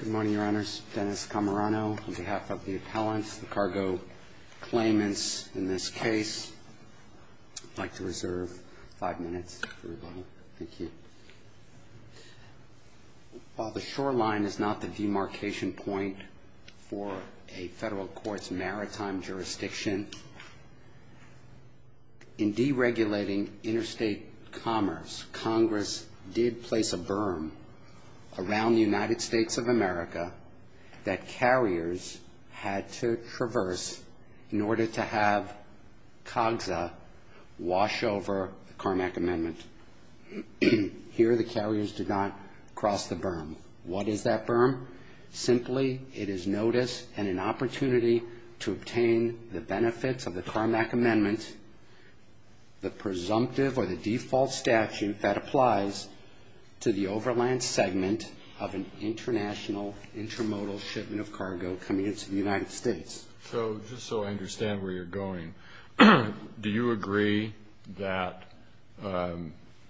Good morning, Your Honors. Dennis Camerano on behalf of the appellants, the cargo claimants in this case. I'd like to reserve five minutes for everybody. Thank you. While the shoreline is not the demarcation point for a federal court's maritime jurisdiction, in deregulating interstate commerce, Congress did place a berm around the United States of America that carriers had to traverse in order to have COGSA wash over the Carmack Amendment. Here, the carriers did not cross the berm. What is that berm? Simply, it is notice and an opportunity to obtain the benefits of the Carmack Amendment, the presumptive or the default statute that applies to the overland segment of an international, intermodal shipment of cargo coming into the United States. So, just so I understand where you're going, do you agree that,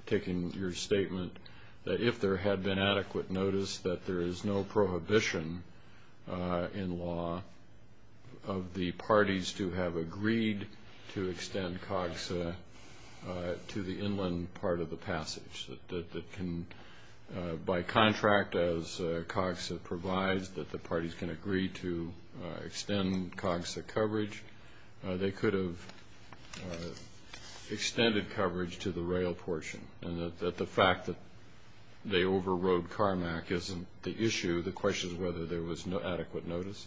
taking your statement, that if there had been adequate notice that there is no prohibition in law of the parties to have agreed to extend COGSA to the inland part of the passage, that by contract, as COGSA provides, that the parties can agree to extend COGSA coverage, they could have extended coverage to the rail portion, and that the fact that they overrode Carmack isn't the issue. The question is whether there was adequate notice.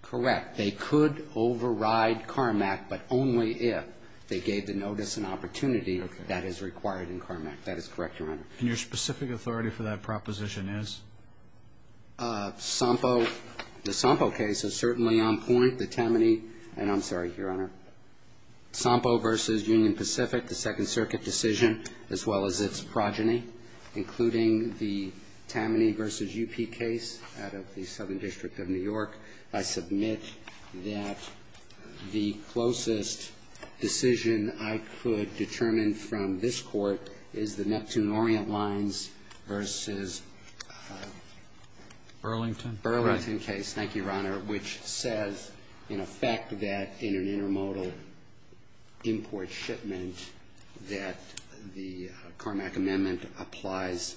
Correct. They could override Carmack, but only if they gave the notice an opportunity that is required in Carmack. That is correct, Your Honor. And your specific authority for that proposition is? SOMPO. The SOMPO case is certainly on point. The Tammany and, I'm sorry, Your Honor, SOMPO v. Union Pacific, the Second Circuit decision, as well as its progeny, including the Tammany v. UP case out of the Southern District of New York, I submit that the closest decision I could determine from this Court is the Neptune Orient Lines v. Burlington case, thank you, Your Honor, which says, in effect, that in an intermodal, intermodal import shipment that the Carmack amendment applies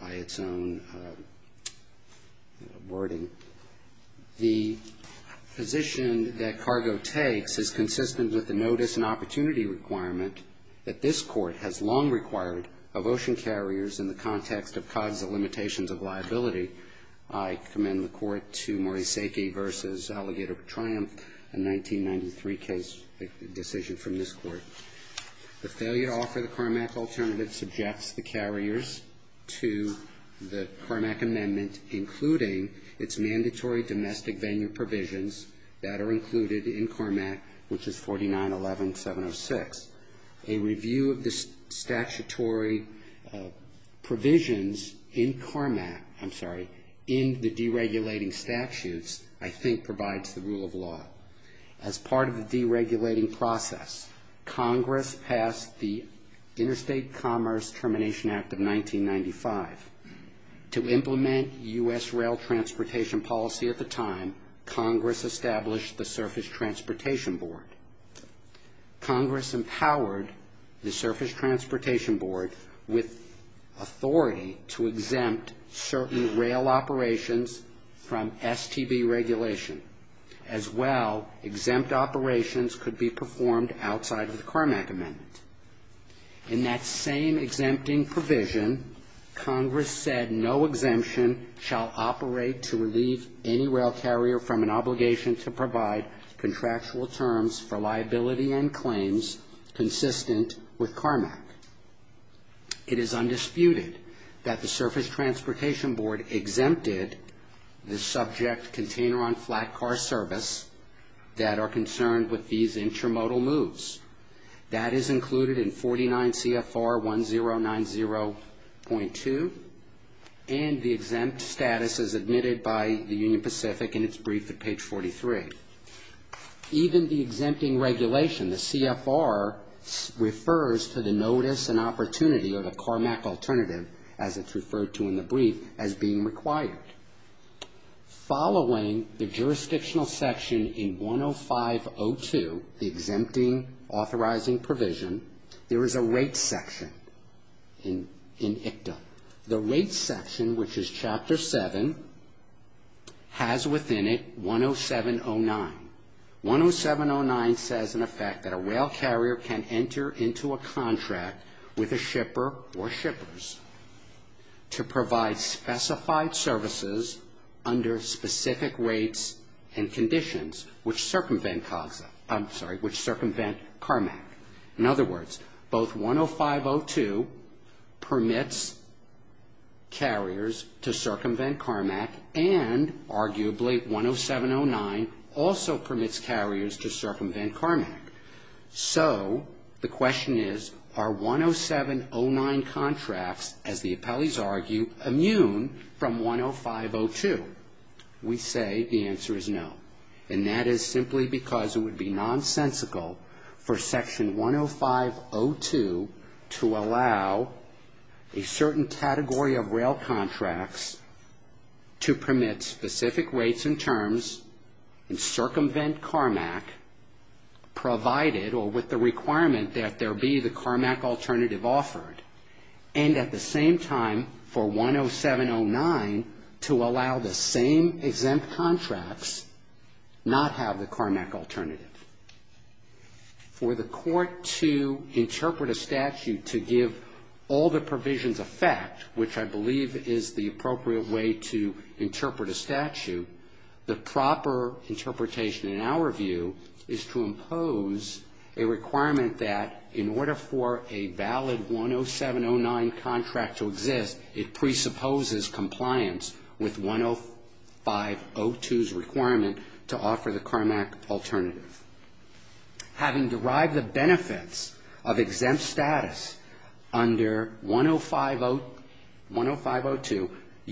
by its own wording. The position that cargo takes is consistent with the notice and opportunity requirement that this Court has long required of ocean carriers in the context of COGSA limitations of liability. I commend the Court to Morisake v. Alligator of Triumph, a 1993 case decision from the Court. The failure to offer the Carmack alternative subjects the carriers to the Carmack amendment, including its mandatory domestic venue provisions that are included in Carmack, which is 4911706. A review of the statutory provisions in Carmack, I'm sorry, in the deregulating statutes, I believe, as part of the deregulating process, Congress passed the Interstate Commerce Termination Act of 1995. To implement U.S. rail transportation policy at the time, Congress established the Surface Transportation Board. Congress empowered the Surface Transportation Board with authority to exempt certain rail operations from STB regulation, as well exempt rail operations could be performed outside of the Carmack amendment. In that same exempting provision, Congress said no exemption shall operate to relieve any rail carrier from an obligation to provide contractual terms for liability and claims consistent with Carmack. It is undisputed that the Surface Transportation Board exempted the subject container-on-flat car service that are concerned with these intramodal moves. That is included in 49 CFR 1090.2, and the exempt status is admitted by the Union Pacific in its brief at page 43. Even the exempting regulation, the CFR, refers to the notice and opportunity of the Carmack alternative, as it's referred to in the brief, as being required. Following the jurisdiction section in 105.02, the exempting authorizing provision, there is a rates section in ICTA. The rates section, which is Chapter 7, has within it 107.09. 107.09 says, in effect, that a rail carrier can enter into a contract with a shipper or shippers to provide specified services under specific rates and conditions which circumvent CARMAC. In other words, both 105.02 permits carriers to circumvent CARMAC, and arguably 107.09 also permits carriers to circumvent CARMAC. So the question is, are 107.09 contracts, as the appellees argue, immune from 105.02? We say the answer is no. And that is simply because it would be nonsensical for Section 105.02 to allow a certain category of rail contracts to permit specific rates and terms and circumvent CARMAC, provided or with the requirement that there be the CARMAC alternative offered, and at the same time for 107.09 to allow the same exempt contracts not have the CARMAC alternative. For the court to interpret a statute to give all the provisions a fact, which I believe is the appropriate way to interpret a statute, the proper interpretation in our view is to impose a requirement that in order for a valid 107.09 contract to exist, it presupposes compliance with 105.02's requirement to offer the CARMAC alternative. Having derived the benefits of exempt status under 105.02,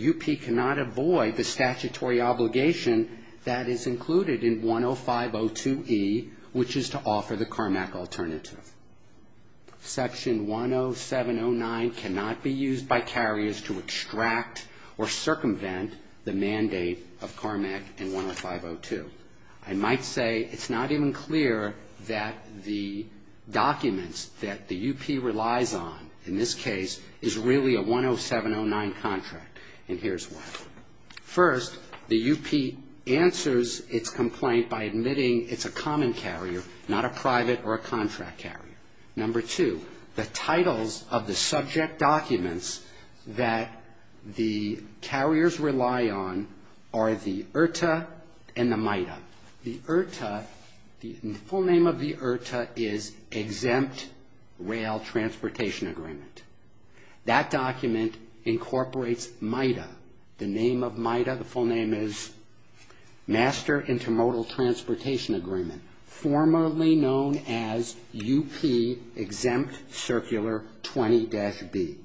UP cannot avoid the statutory obligation that is included in 105.02e, which is to offer the CARMAC alternative. Section 107.09 cannot impose the requirement that the CARMAC alternative be used by carriers to extract or circumvent the mandate of CARMAC in 105.02. I might say it's not even clear that the documents that the UP relies on in this case is really a 107.09 contract, and here's why. First, the UP answers its complaint by admitting it's a common carrier, not a common carrier. The subject documents that the carriers rely on are the IRTA and the MIDA. The IRTA, the full name of the IRTA is Exempt Rail Transportation Agreement. That document incorporates MIDA. The name of MIDA, the full name is Master Intermodal Transportation Agreement, formerly known as UP Exempt Circular 20-day 20-B.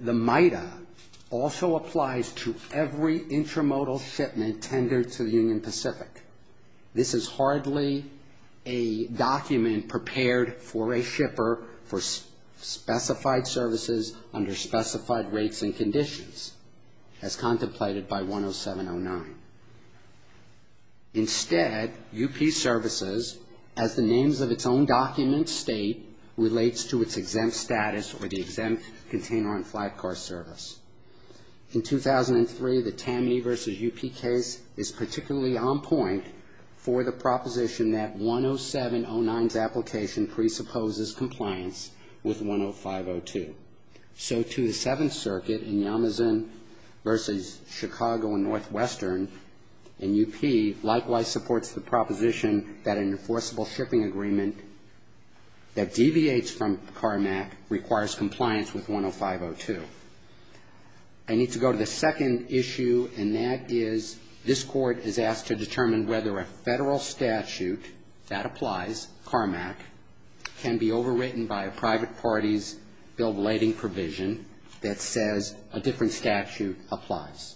The MIDA also applies to every intramodal shipment tendered to the Union Pacific. This is hardly a document prepared for a shipper for specified services under specified rates and conditions, as contemplated by 107.09. Instead, UP services, as the names of its own documents are stated, are subject to the Exempt Container on Flight Car Service. In 2003, the TAMI v. UP case is particularly on point for the proposition that 107.09's application presupposes compliance with 105.02. So, to the Seventh Circuit in Yamazin v. Chicago and Northwestern, and UP, likewise supports the proposition that an enforceable shipping agreement should be in place, that deviates from CARMAC, requires compliance with 105.02. I need to go to the second issue, and that is, this Court is asked to determine whether a federal statute that applies, CARMAC, can be overwritten by a private party's bill of lading provision that says a different statute applies.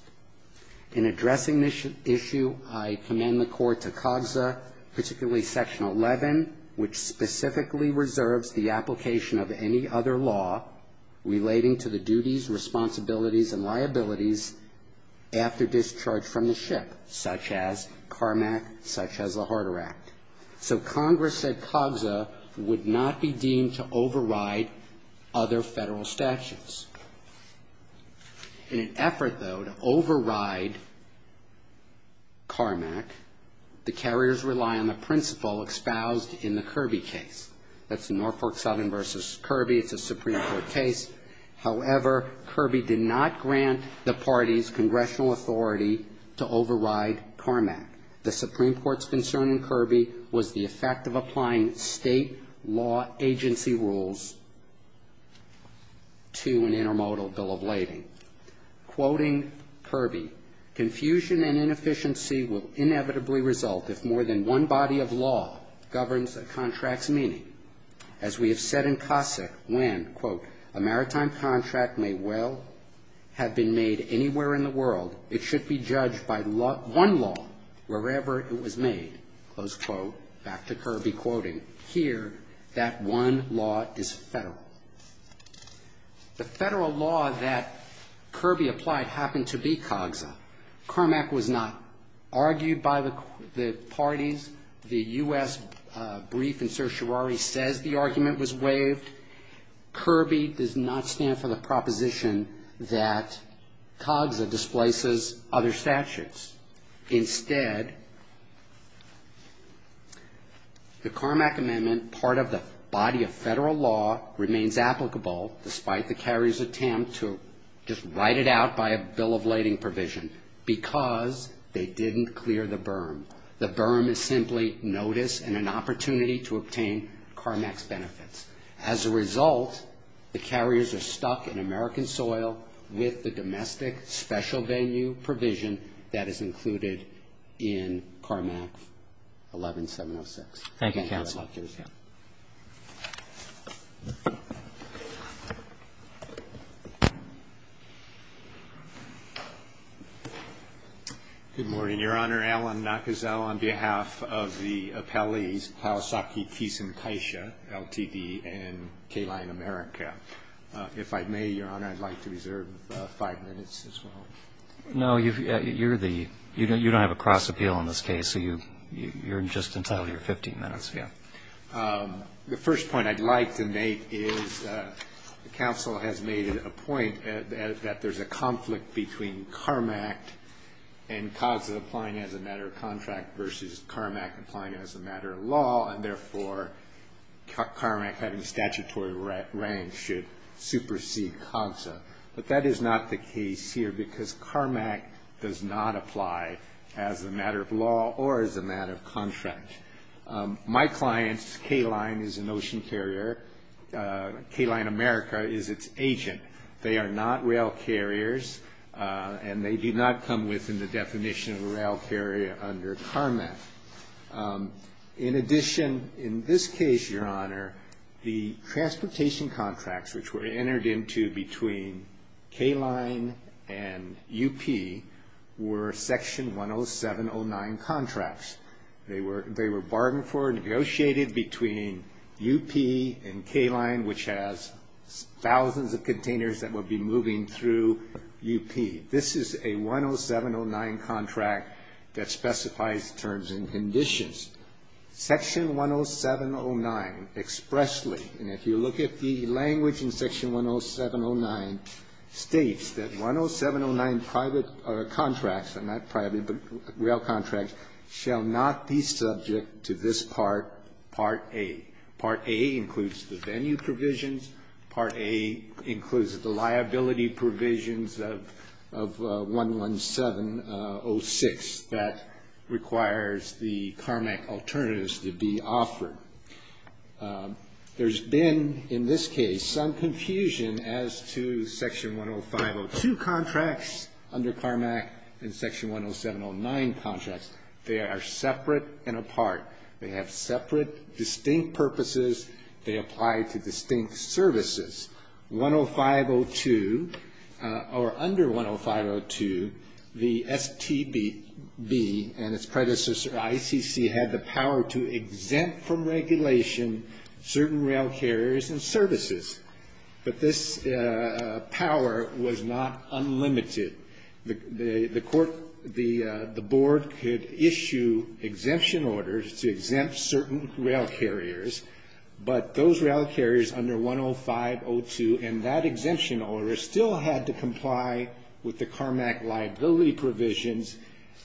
In addressing this issue, I would like to point out, particularly Section 11, which specifically reserves the application of any other law relating to the duties, responsibilities, and liabilities after discharge from the ship, such as CARMAC, such as the Harder Act. So, Congress said CARMAC would not be deemed to override other federal statutes. In an effort, though, to rely on the principle espoused in the Kirby case. That's the Norfolk Southern v. Kirby. It's a Supreme Court case. However, Kirby did not grant the parties congressional authority to override CARMAC. The Supreme Court's concern in Kirby was the effect of applying state law agency rules to an intermodal bill of lading. Quoting Kirby, confusion and inefficiency will inevitably result if more than one body of law governs a contract's meaning. As we have said in Cossack, when, quote, a maritime contract may well have been made anywhere in the world, it should be judged by one law wherever it was made. Close quote. Back to Kirby quoting. Here, that one law is federal. The federal law that Kirby applied happened to be CARMAC. CARMAC was not argued by the parties. The U.S. brief and certiorari says the argument was waived. Kirby does not stand for the proposition that CARMAC displaces other statutes. Instead, the CARMAC amendment, part of the body of federal law, remains in effect. It remains applicable, despite the carrier's attempt to just write it out by a bill of lading provision, because they didn't clear the berm. The berm is simply notice and an opportunity to obtain CARMAC's benefits. As a result, the carriers are stuck in American soil with the domestic special venue provision that is included in CARMAC 11706. Thank you, counsel. Good morning, Your Honor. Alan Nakazawa on behalf of the appellees, Kawasaki, Keeson, Keisha, LTD, and K-Line America. If I may, Your Honor, I'd like to reserve five minutes as well. No, you're the, you don't have a cross appeal in this case, so you're just entitled to your 15 minutes. The first point I'd like to make is counsel has made a point that there's a conflict between CARMAC and CASA applying as a matter of contract versus CARMAC applying as a matter of law, and therefore, CARMAC having statutory rank should supersede CASA, but that is not the case here because CARMAC does not apply as a matter of law or as a matter of contract. My clients, K-Line is an ocean carrier, K-Line America is its agent. They are not rail carriers, and they do not come within the definition of a rail carrier under CARMAC. In addition, in this case, Your Honor, the transportation contracts which were entered into between K-Line and UP were Section 10709 contracts. They were bargained for, negotiated between UP and K-Line, which has thousands of containers that would be moving through UP. This is a 10709 contract that specifies terms and conditions. Section 10709 exposes the terms and conditions expressly, and if you look at the language in Section 10709, it states that 10709 private contracts, not private, but rail contracts, shall not be subject to this Part A. Part A includes the venue provisions. Part A includes the liability provisions of 11706 that requires the CARMAC alternatives to be offered. There's been, in this case, some confusion as to Section 10502 contracts under CARMAC and Section 10709 contracts. They are separate and apart. They have separate, distinct purposes. They apply to distinct services. 10502, or under 10502, the STB and its predecessor, ICC, had the power to exempt the STB from regulation certain rail carriers and services, but this power was not unlimited. The board could issue exemption orders to exempt certain rail carriers, but those rail carriers under 10502 and that exemption order still had to comply with the CARMAC liability provisions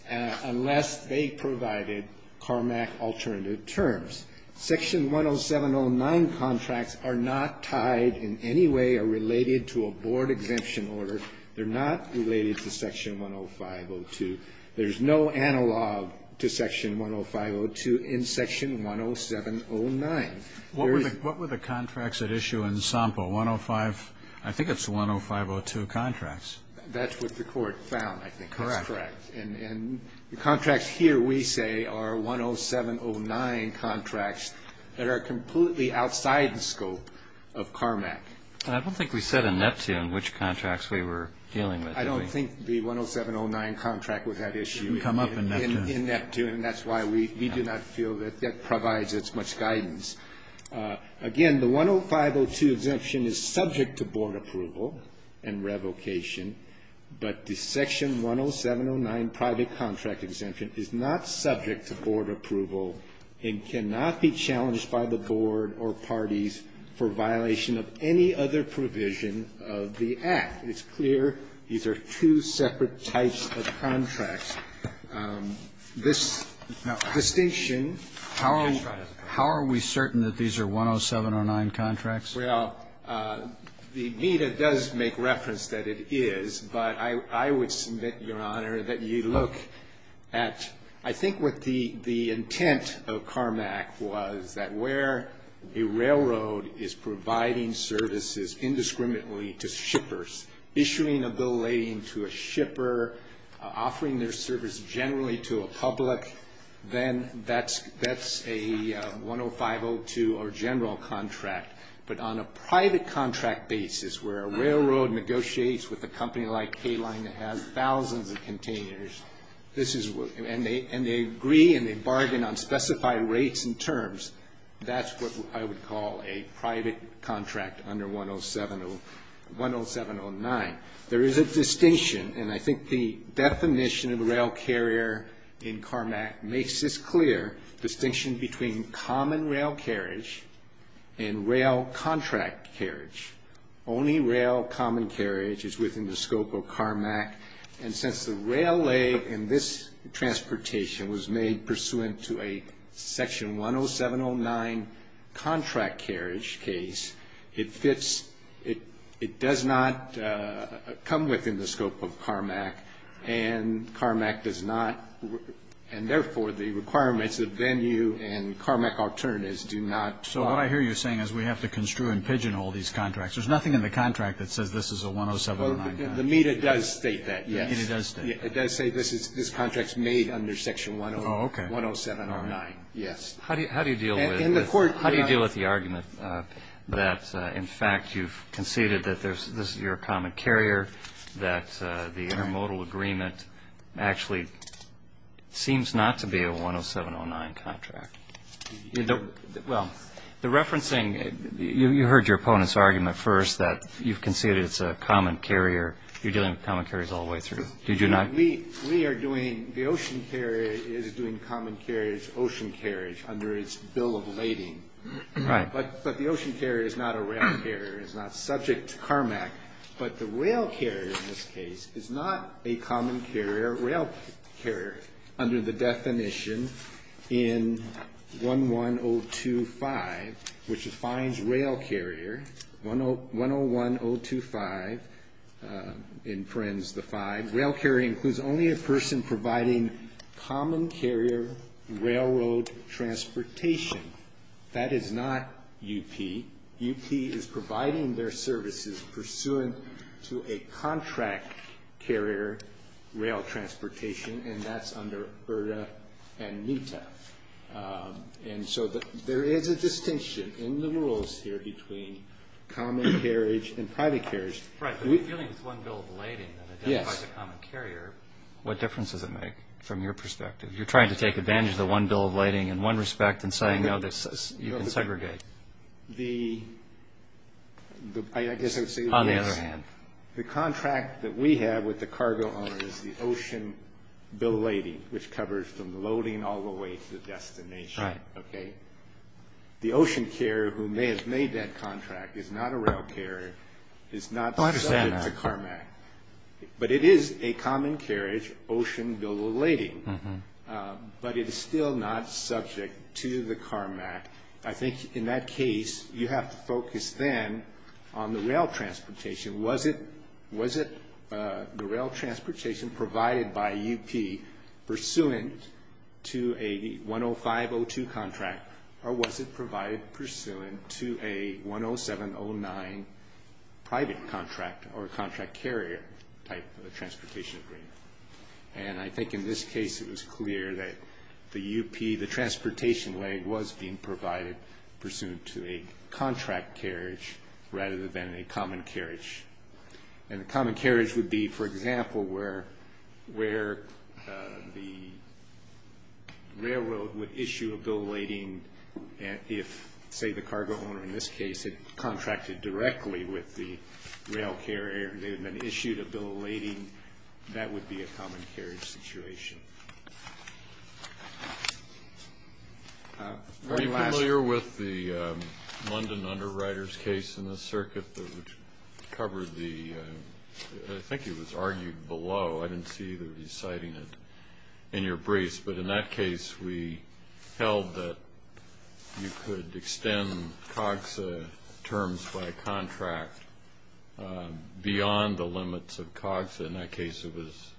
unless they provided CARMAC alternative terms. Section 10709 contracts are not tied in any way or related to a board exemption order. They're not related to Section 10502. There's no analog to Section 10502 in Section 10709. Roberts. What were the contracts at issue in SOMPO? 105, I think it's 10502 contracts. That's what the Court found, I think. That's correct. And the contracts here, we say, are 10709 contracts that are completely outside the scope of CARMAC. I don't think we said in Neptune which contracts we were dealing with. I don't think the 10709 contract was at issue in Neptune, and that's why we do not feel that that provides as much guidance. Again, the 10502 exemption is subject to board approval and revocation, but the Section 10709 private contract exemption is not subject to board approval and cannot be changed. It cannot be challenged by the board or parties for violation of any other provision of the Act. It's clear these are two separate types of contracts. This distinction of contracts. How are we certain that these are 10709 contracts? Well, the BDA does make reference that it is, but I would submit, Your Honor, that you look at, I think, what the BDA says, that where a railroad is providing services indiscriminately to shippers, issuing a bill relating to a shipper, offering their service generally to a public, then that's a 10502 or general contract. But on a private contract basis, where a railroad negotiates with a company like K-Line that has thousands of containers, and they agree and they bargain on specified rates and terms, that's a 10709 contract. That's what I would call a private contract under 10709. There is a distinction, and I think the definition of a rail carrier in CARMAC makes this clear, distinction between common rail carriage and rail contract carriage. Only rail common carriage is within the scope of CARMAC, and since the rail lay in this transportation was made pursuant to a section 10709 contract carriage case, it fits, it does not come within the scope of CARMAC, and CARMAC does not, and therefore the requirements of venue and CARMAC alternatives do not. So what I hear you saying is we have to construe and pigeonhole these contracts. There's nothing in the contract that says this is a 10709 contract. The META does state that, yes. The META does state that. It does say this contract is made under section 10709, yes. How do you deal with the argument that, in fact, you've conceded that this is your common carrier, that the intermodal agreement actually seems not to be a 10709 contract? Well, the referencing, you heard your opponent's argument first that you've conceded that it's a common carrier. You're dealing with common carriers all the way through. Did you not? We are doing, the ocean carrier is doing common carriage, ocean carriage under its bill of lading. Right. But the ocean carrier is not a rail carrier. It's not subject to CARMAC. But the rail carrier in this case is not a common carrier. The common carrier rail carrier, under the definition in 11025, which defines rail carrier, 101025, in Friends the 5, rail carrier includes only a person providing common carrier railroad transportation. That is not UP. UP is providing their services pursuant to a contract carrier rail transportation, and that's under ERTA and META. And so there is a distinction in the rules here between common carriage and private carriage. Right, but dealing with one bill of lading that identifies a common carrier, what difference does it make from your perspective? You're trying to take advantage of the one bill of lading in one respect and saying, no, you can segregate. On the other hand, the contract that we have with the cargo owner is the ocean bill of lading, which covers from loading all the way to the destination. The ocean carrier who may have made that contract is not a rail carrier, is not subject to CARMAC. But it is a common carriage, ocean bill of lading, but it is still not subject to the CARMAC. I think in that case, you have to focus then on the rail transportation. Was it the rail transportation provided by UP pursuant to a 105-02 contract, or was it provided pursuant to a 107-09 private contract or contract carrier type of transportation agreement? And I think in this case, it was clear that the UP, the transportation leg was being provided pursuant to a contract carriage rather than a common carriage. And a common carriage would be, for example, where the railroad would issue a bill of lading if, say, the cargo owner in this case had contracted directly with the rail carrier, and they had been issued a bill of lading, that would be a common carriage situation. Are you familiar with the London Underwriters case in the circuit that covered the, I think it was argued below, I didn't see either of you citing it in your briefs, but in that case, we held that you could extend COGSA terms by contract beyond the 107-09. Beyond the limits of COGSA, in that case it was,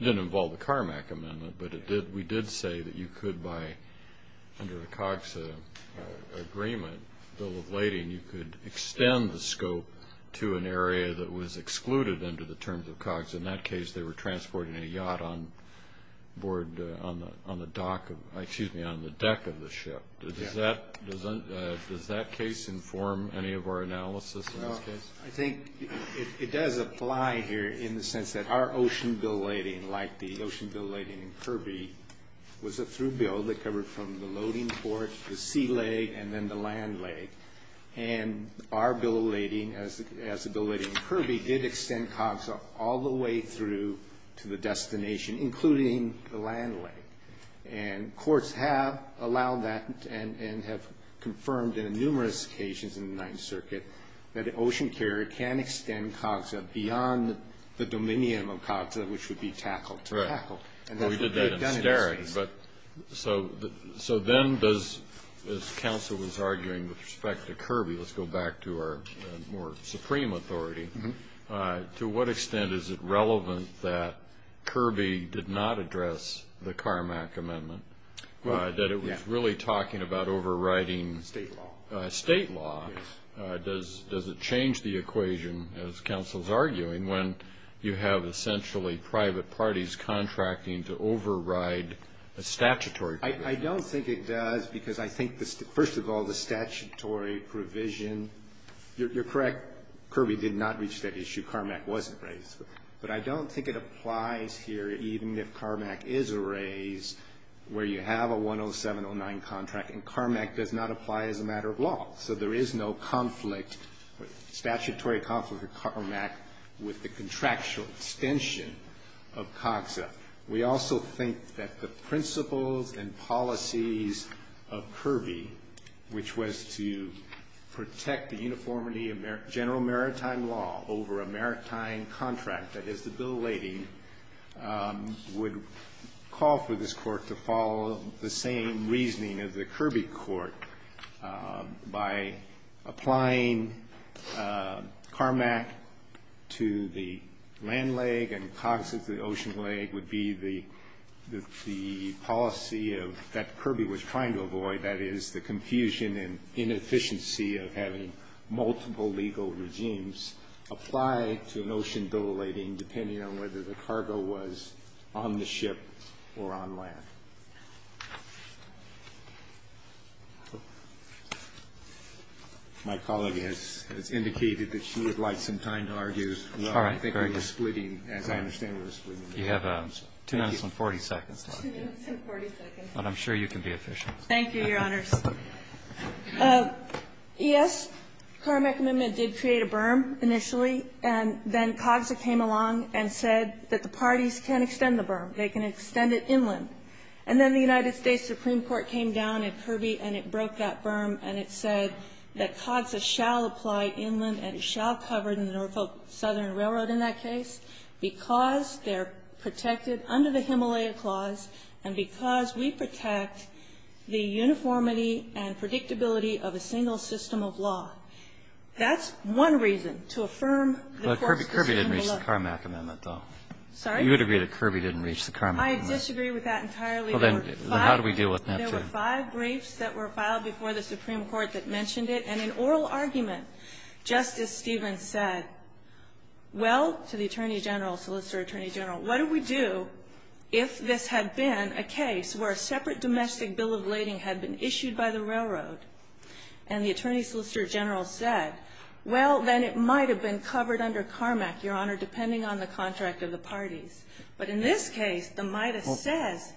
it didn't involve the Carmack Amendment, but we did say that you could by, under the COGSA agreement, bill of lading, you could extend the scope to an area that was excluded under the terms of COGSA. In that case, they were transporting a yacht on board, on the dock, excuse me, on the deck of the ship. Does that case inform any of our analysis in this case? I think it does apply here, in the sense that our ocean bill of lading, like the ocean bill of lading in Kirby, was a through bill that covered from the loading port, the sea leg, and then the land leg. And our bill of lading, as the bill of lading in Kirby, did extend COGSA all the way through to the destination, including the land leg. And courts have allowed that, and have confirmed in numerous occasions in the Ninth Circuit, that an ocean carrier could extend COGSA terms beyond the 107-09. So, an ocean carrier can extend COGSA beyond the dominium of COGSA, which would be tackled to tackle. We did that in Steric, but so then does, as counsel was arguing with respect to Kirby, let's go back to our more supreme authority, to what extent is it relevant that Kirby did not address the Carmack Amendment? That it was really talking about overriding state law. Does it change the equation, as counsel's arguing, when you have essentially private parties contracting to override a statutory provision? I don't think it does, because I think, first of all, the statutory provision, you're correct, Kirby did not reach that issue, Carmack wasn't raised. But I don't think it applies here, even if Carmack is a raise, where you have a 107-09 contract. And Carmack does not apply as a matter of law, so there is no conflict, statutory conflict with Carmack with the contractual extension of COGSA. We also think that the principles and policies of Kirby, which was to protect the uniformity of general maritime law over a maritime contract, that is the bill of lading, would call for this Court to follow the same reasoning of the Kirby Court by applying Carmack to the land leg and COGSA to the ocean leg, would be the policy that Kirby was trying to avoid, that is, the confusion and inefficiency of having multiple legal regimes apply to a notion of bill of lading, depending on whether the Carmack Amendment is in effect. And I don't think it applies here, even if Carmack is a raise, where you have a 107-09 contract, Kirby would call for this Court to follow the same reasoning of the Kirby Court by applying Carmack to the land leg and COGSA to the ocean leg, depending on whether the Carmack Amendment is in effect. And then the United States Supreme Court came down at Kirby and it broke that berm and it said that COGSA shall apply inland and it shall cover the Norfolk Southern Railroad in that case because they're protected under the Himalaya Clause and because we protect the uniformity and predictability of a single system of law. That's one reason to affirm the Court's decision to look at the Carmack Amendment. Kagan, you would agree that Kirby didn't reach the Carmack Amendment? I disagree with that entirely. Well, then how do we deal with that? There were five briefs that were filed before the Supreme Court that mentioned it, and in oral argument, Justice Stevens said, well, to the Attorney General, Solicitor Attorney General, what do we do if this had been a case where a separate domestic bill of lading had been issued by the railroad? And the Attorney Solicitor General said, well, then it might have been covered under Carmack, Your Honor, depending on the contract of the parties. But in this case, the MIDAS says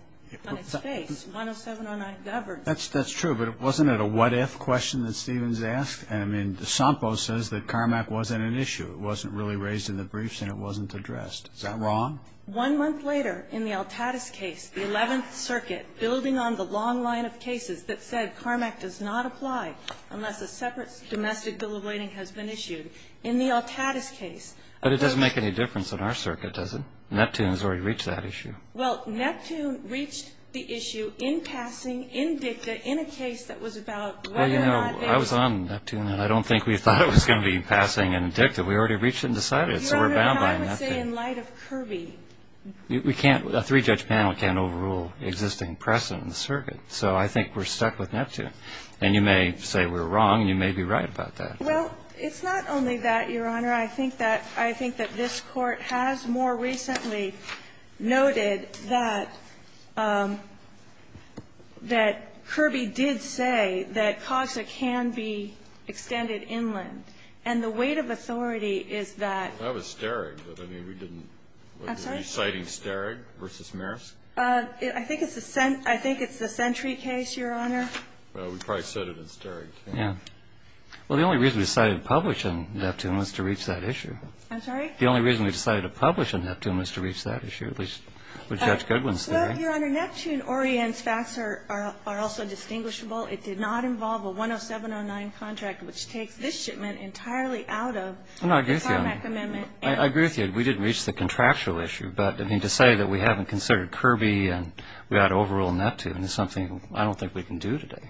on its face, 10709 governs. That's true, but wasn't it a what-if question that Stevens asked? I mean, DeSampo says that Carmack wasn't an issue. It wasn't really raised in the briefs and it wasn't addressed. Is that wrong? One month later, in the Altatus case, the Eleventh Circuit, building on the long line of cases that said Carmack does not apply unless a separate domestic bill of lading has been issued. In the Altatus case- But it doesn't make any difference in our circuit, does it? Neptune has already reached that issue. Well, Neptune reached the issue in passing, in dicta, in a case that was about whether or not they- I was on Neptune, and I don't think we thought it was going to be passing in dicta. We already reached it and decided it, so we're bound by Neptune. Your Honor, and I would say in light of Kirby. We can't, a three-judge panel can't overrule existing precedent in the circuit, so I think we're stuck with Neptune. And you may say we're wrong, and you may be right about that. Well, it's not only that, Your Honor. I think that this Court has more recently noted that Kirby did say that CASA can be extended inland, and the weight of authority is that- That was Starig, but, I mean, we didn't- I'm sorry? Were you citing Starig v. Marisk? I think it's the Sentry case, Your Honor. Well, we probably said it in Starig. Yeah. Well, the only reason we decided to publish in Neptune was to reach that issue. I'm sorry? The only reason we decided to publish in Neptune was to reach that issue, at least what Judge Goodwin's saying. Well, Your Honor, Neptune orients facts are also distinguishable. It did not involve a 10709 contract, which takes this shipment entirely out of- No, I agree with you on that. I agree with you. We didn't reach the contractual issue, but, I mean, to say that we haven't considered Kirby and we ought to overrule Neptune is something I don't think we can do today.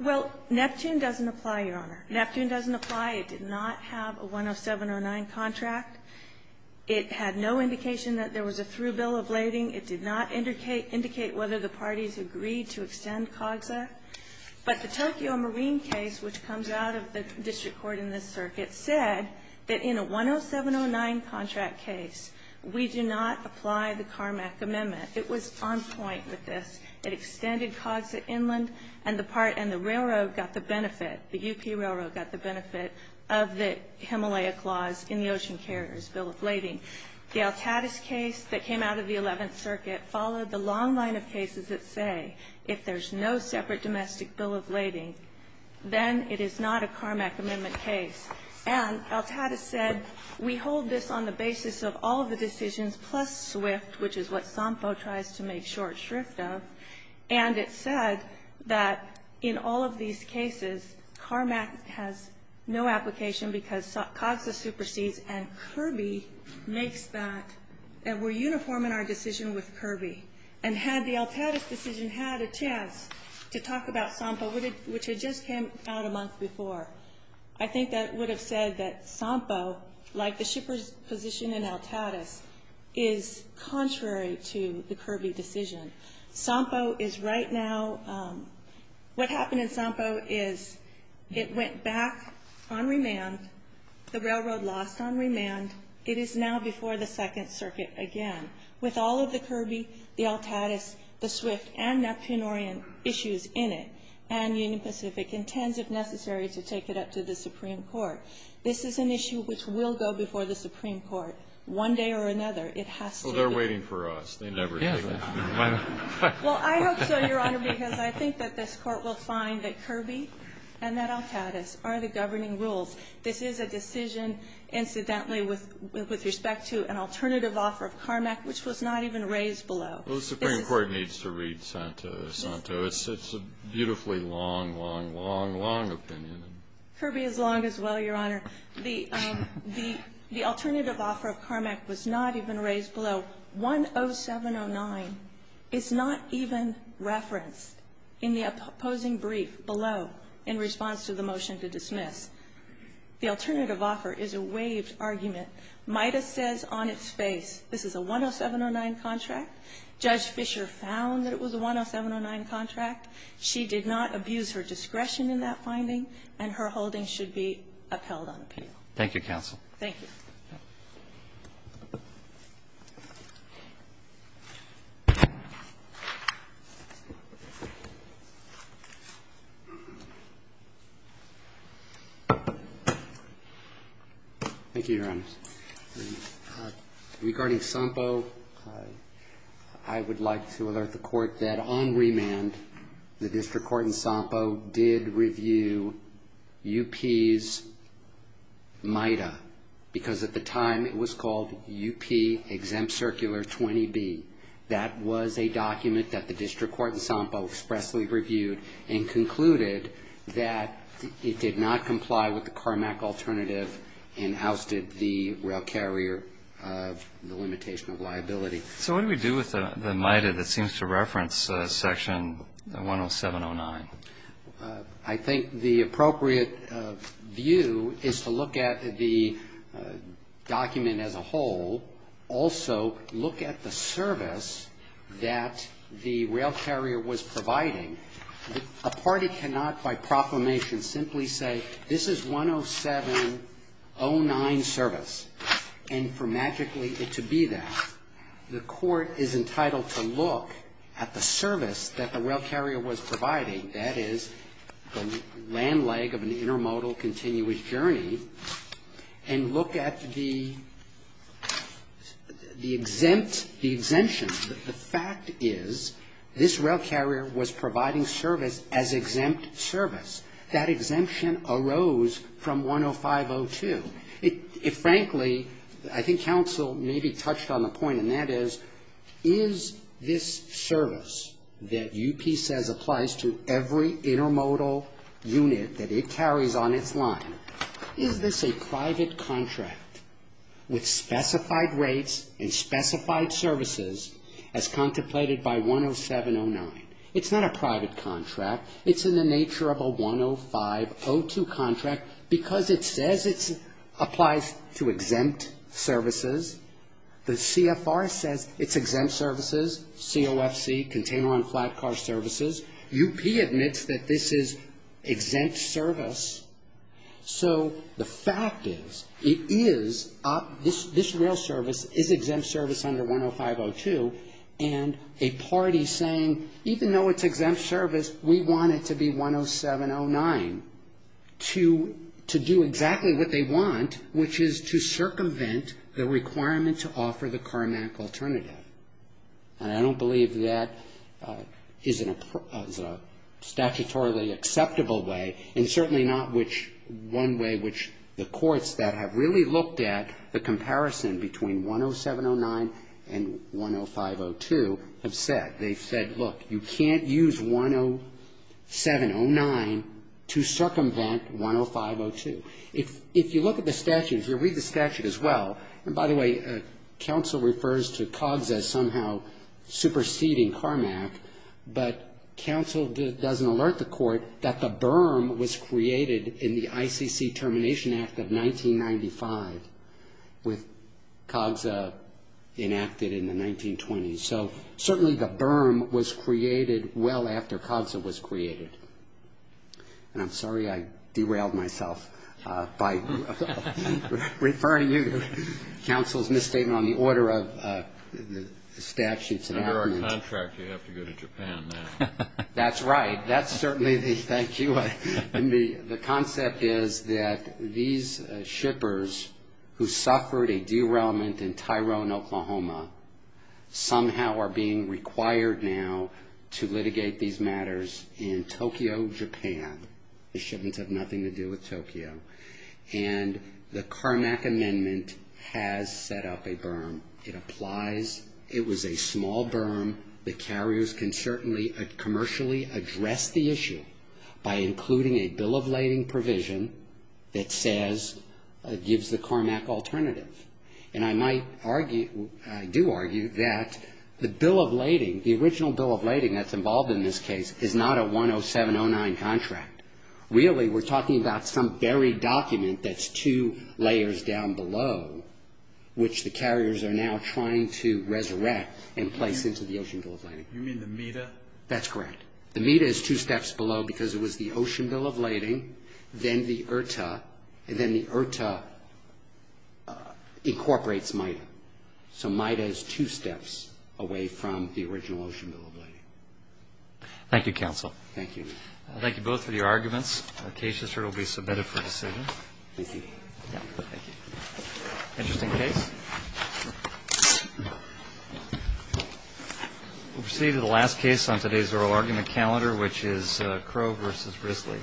Well, Neptune doesn't apply, Your Honor. Neptune doesn't apply. It did not have a 10709 contract. It had no indication that there was a through bill of lading. It did not indicate whether the parties agreed to extend COGSA. But the Tokyo Marine case, which comes out of the district court in this circuit, said that in a 10709 contract case, we do not apply the Carmack Amendment. It was on point with this. It extended COGSA inland, and the part and the railroad got the benefit, the UP Railroad got the benefit of the Himalaya Clause in the Ocean Carrier's Bill of Lading. The Altadas case that came out of the 11th Circuit followed the long line of cases that say if there's no separate domestic bill of lading, then it is not a Carmack Amendment case. And Altadas said, we hold this on the basis of all the decisions plus SWIFT, which is what SOMPO tries to make short SWIFT of. And it said that in all of these cases, Carmack has no application because COGSA supersedes, and Kirby makes that. And we're uniform in our decision with Kirby. And had the Altadas decision had a chance to talk about SOMPO, which had just came out a month before, I think that would have said that SOMPO, like the shipper's position in Altadas, is contrary to the Kirby decision. SOMPO is right now, what happened in SOMPO is it went back on remand. The railroad lost on remand. It is now before the Second Circuit again. With all of the Kirby, the Altadas, the SWIFT, and Neptune-Orient issues in it, and Union Pacific, intends, if necessary, to take it up to the Supreme Court. This is an issue which will go before the Supreme Court one day or another. It has to be. Well, they're waiting for us. They never take it up to the Supreme Court. Well, I hope so, Your Honor, because I think that this Court will find that Kirby and that Altadas are the governing rules. This is a decision, incidentally, with respect to an alternative offer of Carmack, which was not even raised below. Well, the Supreme Court needs to read Santo. It's a beautifully long, long, long, long opinion. Kirby is long as well, Your Honor. The alternative offer of Carmack was not even raised below. 10709 is not even referenced in the opposing brief below in response to the motion to dismiss. The alternative offer is a waived argument. MIDA says on its face, this is a 10709 contract. Judge Fischer found that it was a 10709 contract. She did not abuse her discretion in that finding. And her holding should be upheld on appeal. Thank you, counsel. Thank you. Thank you, Your Honor. Regarding Sampo, I would like to alert the Court that on remand, the District Court in Sampo did review UP's MIDA. Because at the time, it was called UP Exempt Circular 20B. That was a document that the District Court in Sampo expressly reviewed and concluded that it did not comply with the Carmack alternative and ousted the rail carrier of the limitation of liability. So what do we do with the MIDA that seems to reference section 10709? I think the appropriate view is to look at the document as a whole. Also, look at the service that the rail carrier was providing. A party cannot, by proclamation, simply say, this is 10709 service. And for magically it to be that. The court is entitled to look at the service that the rail carrier was providing, that is, the land leg of an intermodal continuous journey, and look at the exempt, the exemption. The fact is, this rail carrier was providing service as exempt service. That exemption arose from 105.02. Frankly, I think counsel maybe touched on the point, and that is, is this service that UP says applies to every intermodal unit that it carries on its line, is this a private contract with specified rates and specified services as contemplated by 10709? It's not a private contract, it's in the nature of a 105.02 contract because it says it applies to exempt services. The CFR says it's exempt services, COFC, container on flat car services. UP admits that this is exempt service. So the fact is, it is, this rail service is exempt service under 105.02. And a party saying, even though it's exempt service, we want it to be 10709, to do exactly what they want, which is to circumvent the requirement to offer the CARMAC alternative. And I don't believe that is a statutorily acceptable way, and certainly not one way which the courts that have really looked at the comparison between 10709 and 105.02 have said. They've said, look, you can't use 10709 to circumvent 105.02. If you look at the statutes, you'll read the statute as well. And by the way, counsel refers to COGSA as somehow superseding CARMAC. But counsel doesn't alert the court that the berm was created in the ICC Termination Act of 1995 with COGSA enacted in the 1920s. So certainly the berm was created well after COGSA was created. And I'm sorry I derailed myself by referring you. Counsel's misstatement on the order of the statutes. Under our contract, you have to go to Japan now. That's right. That's certainly the, thank you. And the concept is that these shippers who suffered a derailment in Tyrone, Oklahoma, somehow are being required now to litigate these matters in Tokyo, Japan. This shouldn't have nothing to do with Tokyo. And the CARMAC amendment has set up a berm. It applies. It was a small berm. The carriers can certainly commercially address the issue by including a bill of lading provision that says, gives the CARMAC alternative. And I might argue, I do argue that the bill of lading, the original bill of lading that's involved in this case, is not a 10709 contract. Really, we're talking about some buried document that's two layers down below, which the carriers are now trying to resurrect and place into the Ocean Bill of Lading. You mean the MEDA? That's correct. The MEDA is two steps below because it was the Ocean Bill of Lading, then the IRTA, and then the IRTA incorporates MIDA. So MIDA is two steps away from the original Ocean Bill of Lading. Thank you, counsel. Thank you. Thank you both for your arguments. The case is sure to be submitted for decision. Thank you. Yeah, thank you. Interesting case. We'll proceed to the last case on today's oral argument calendar, which is Crow versus Risley.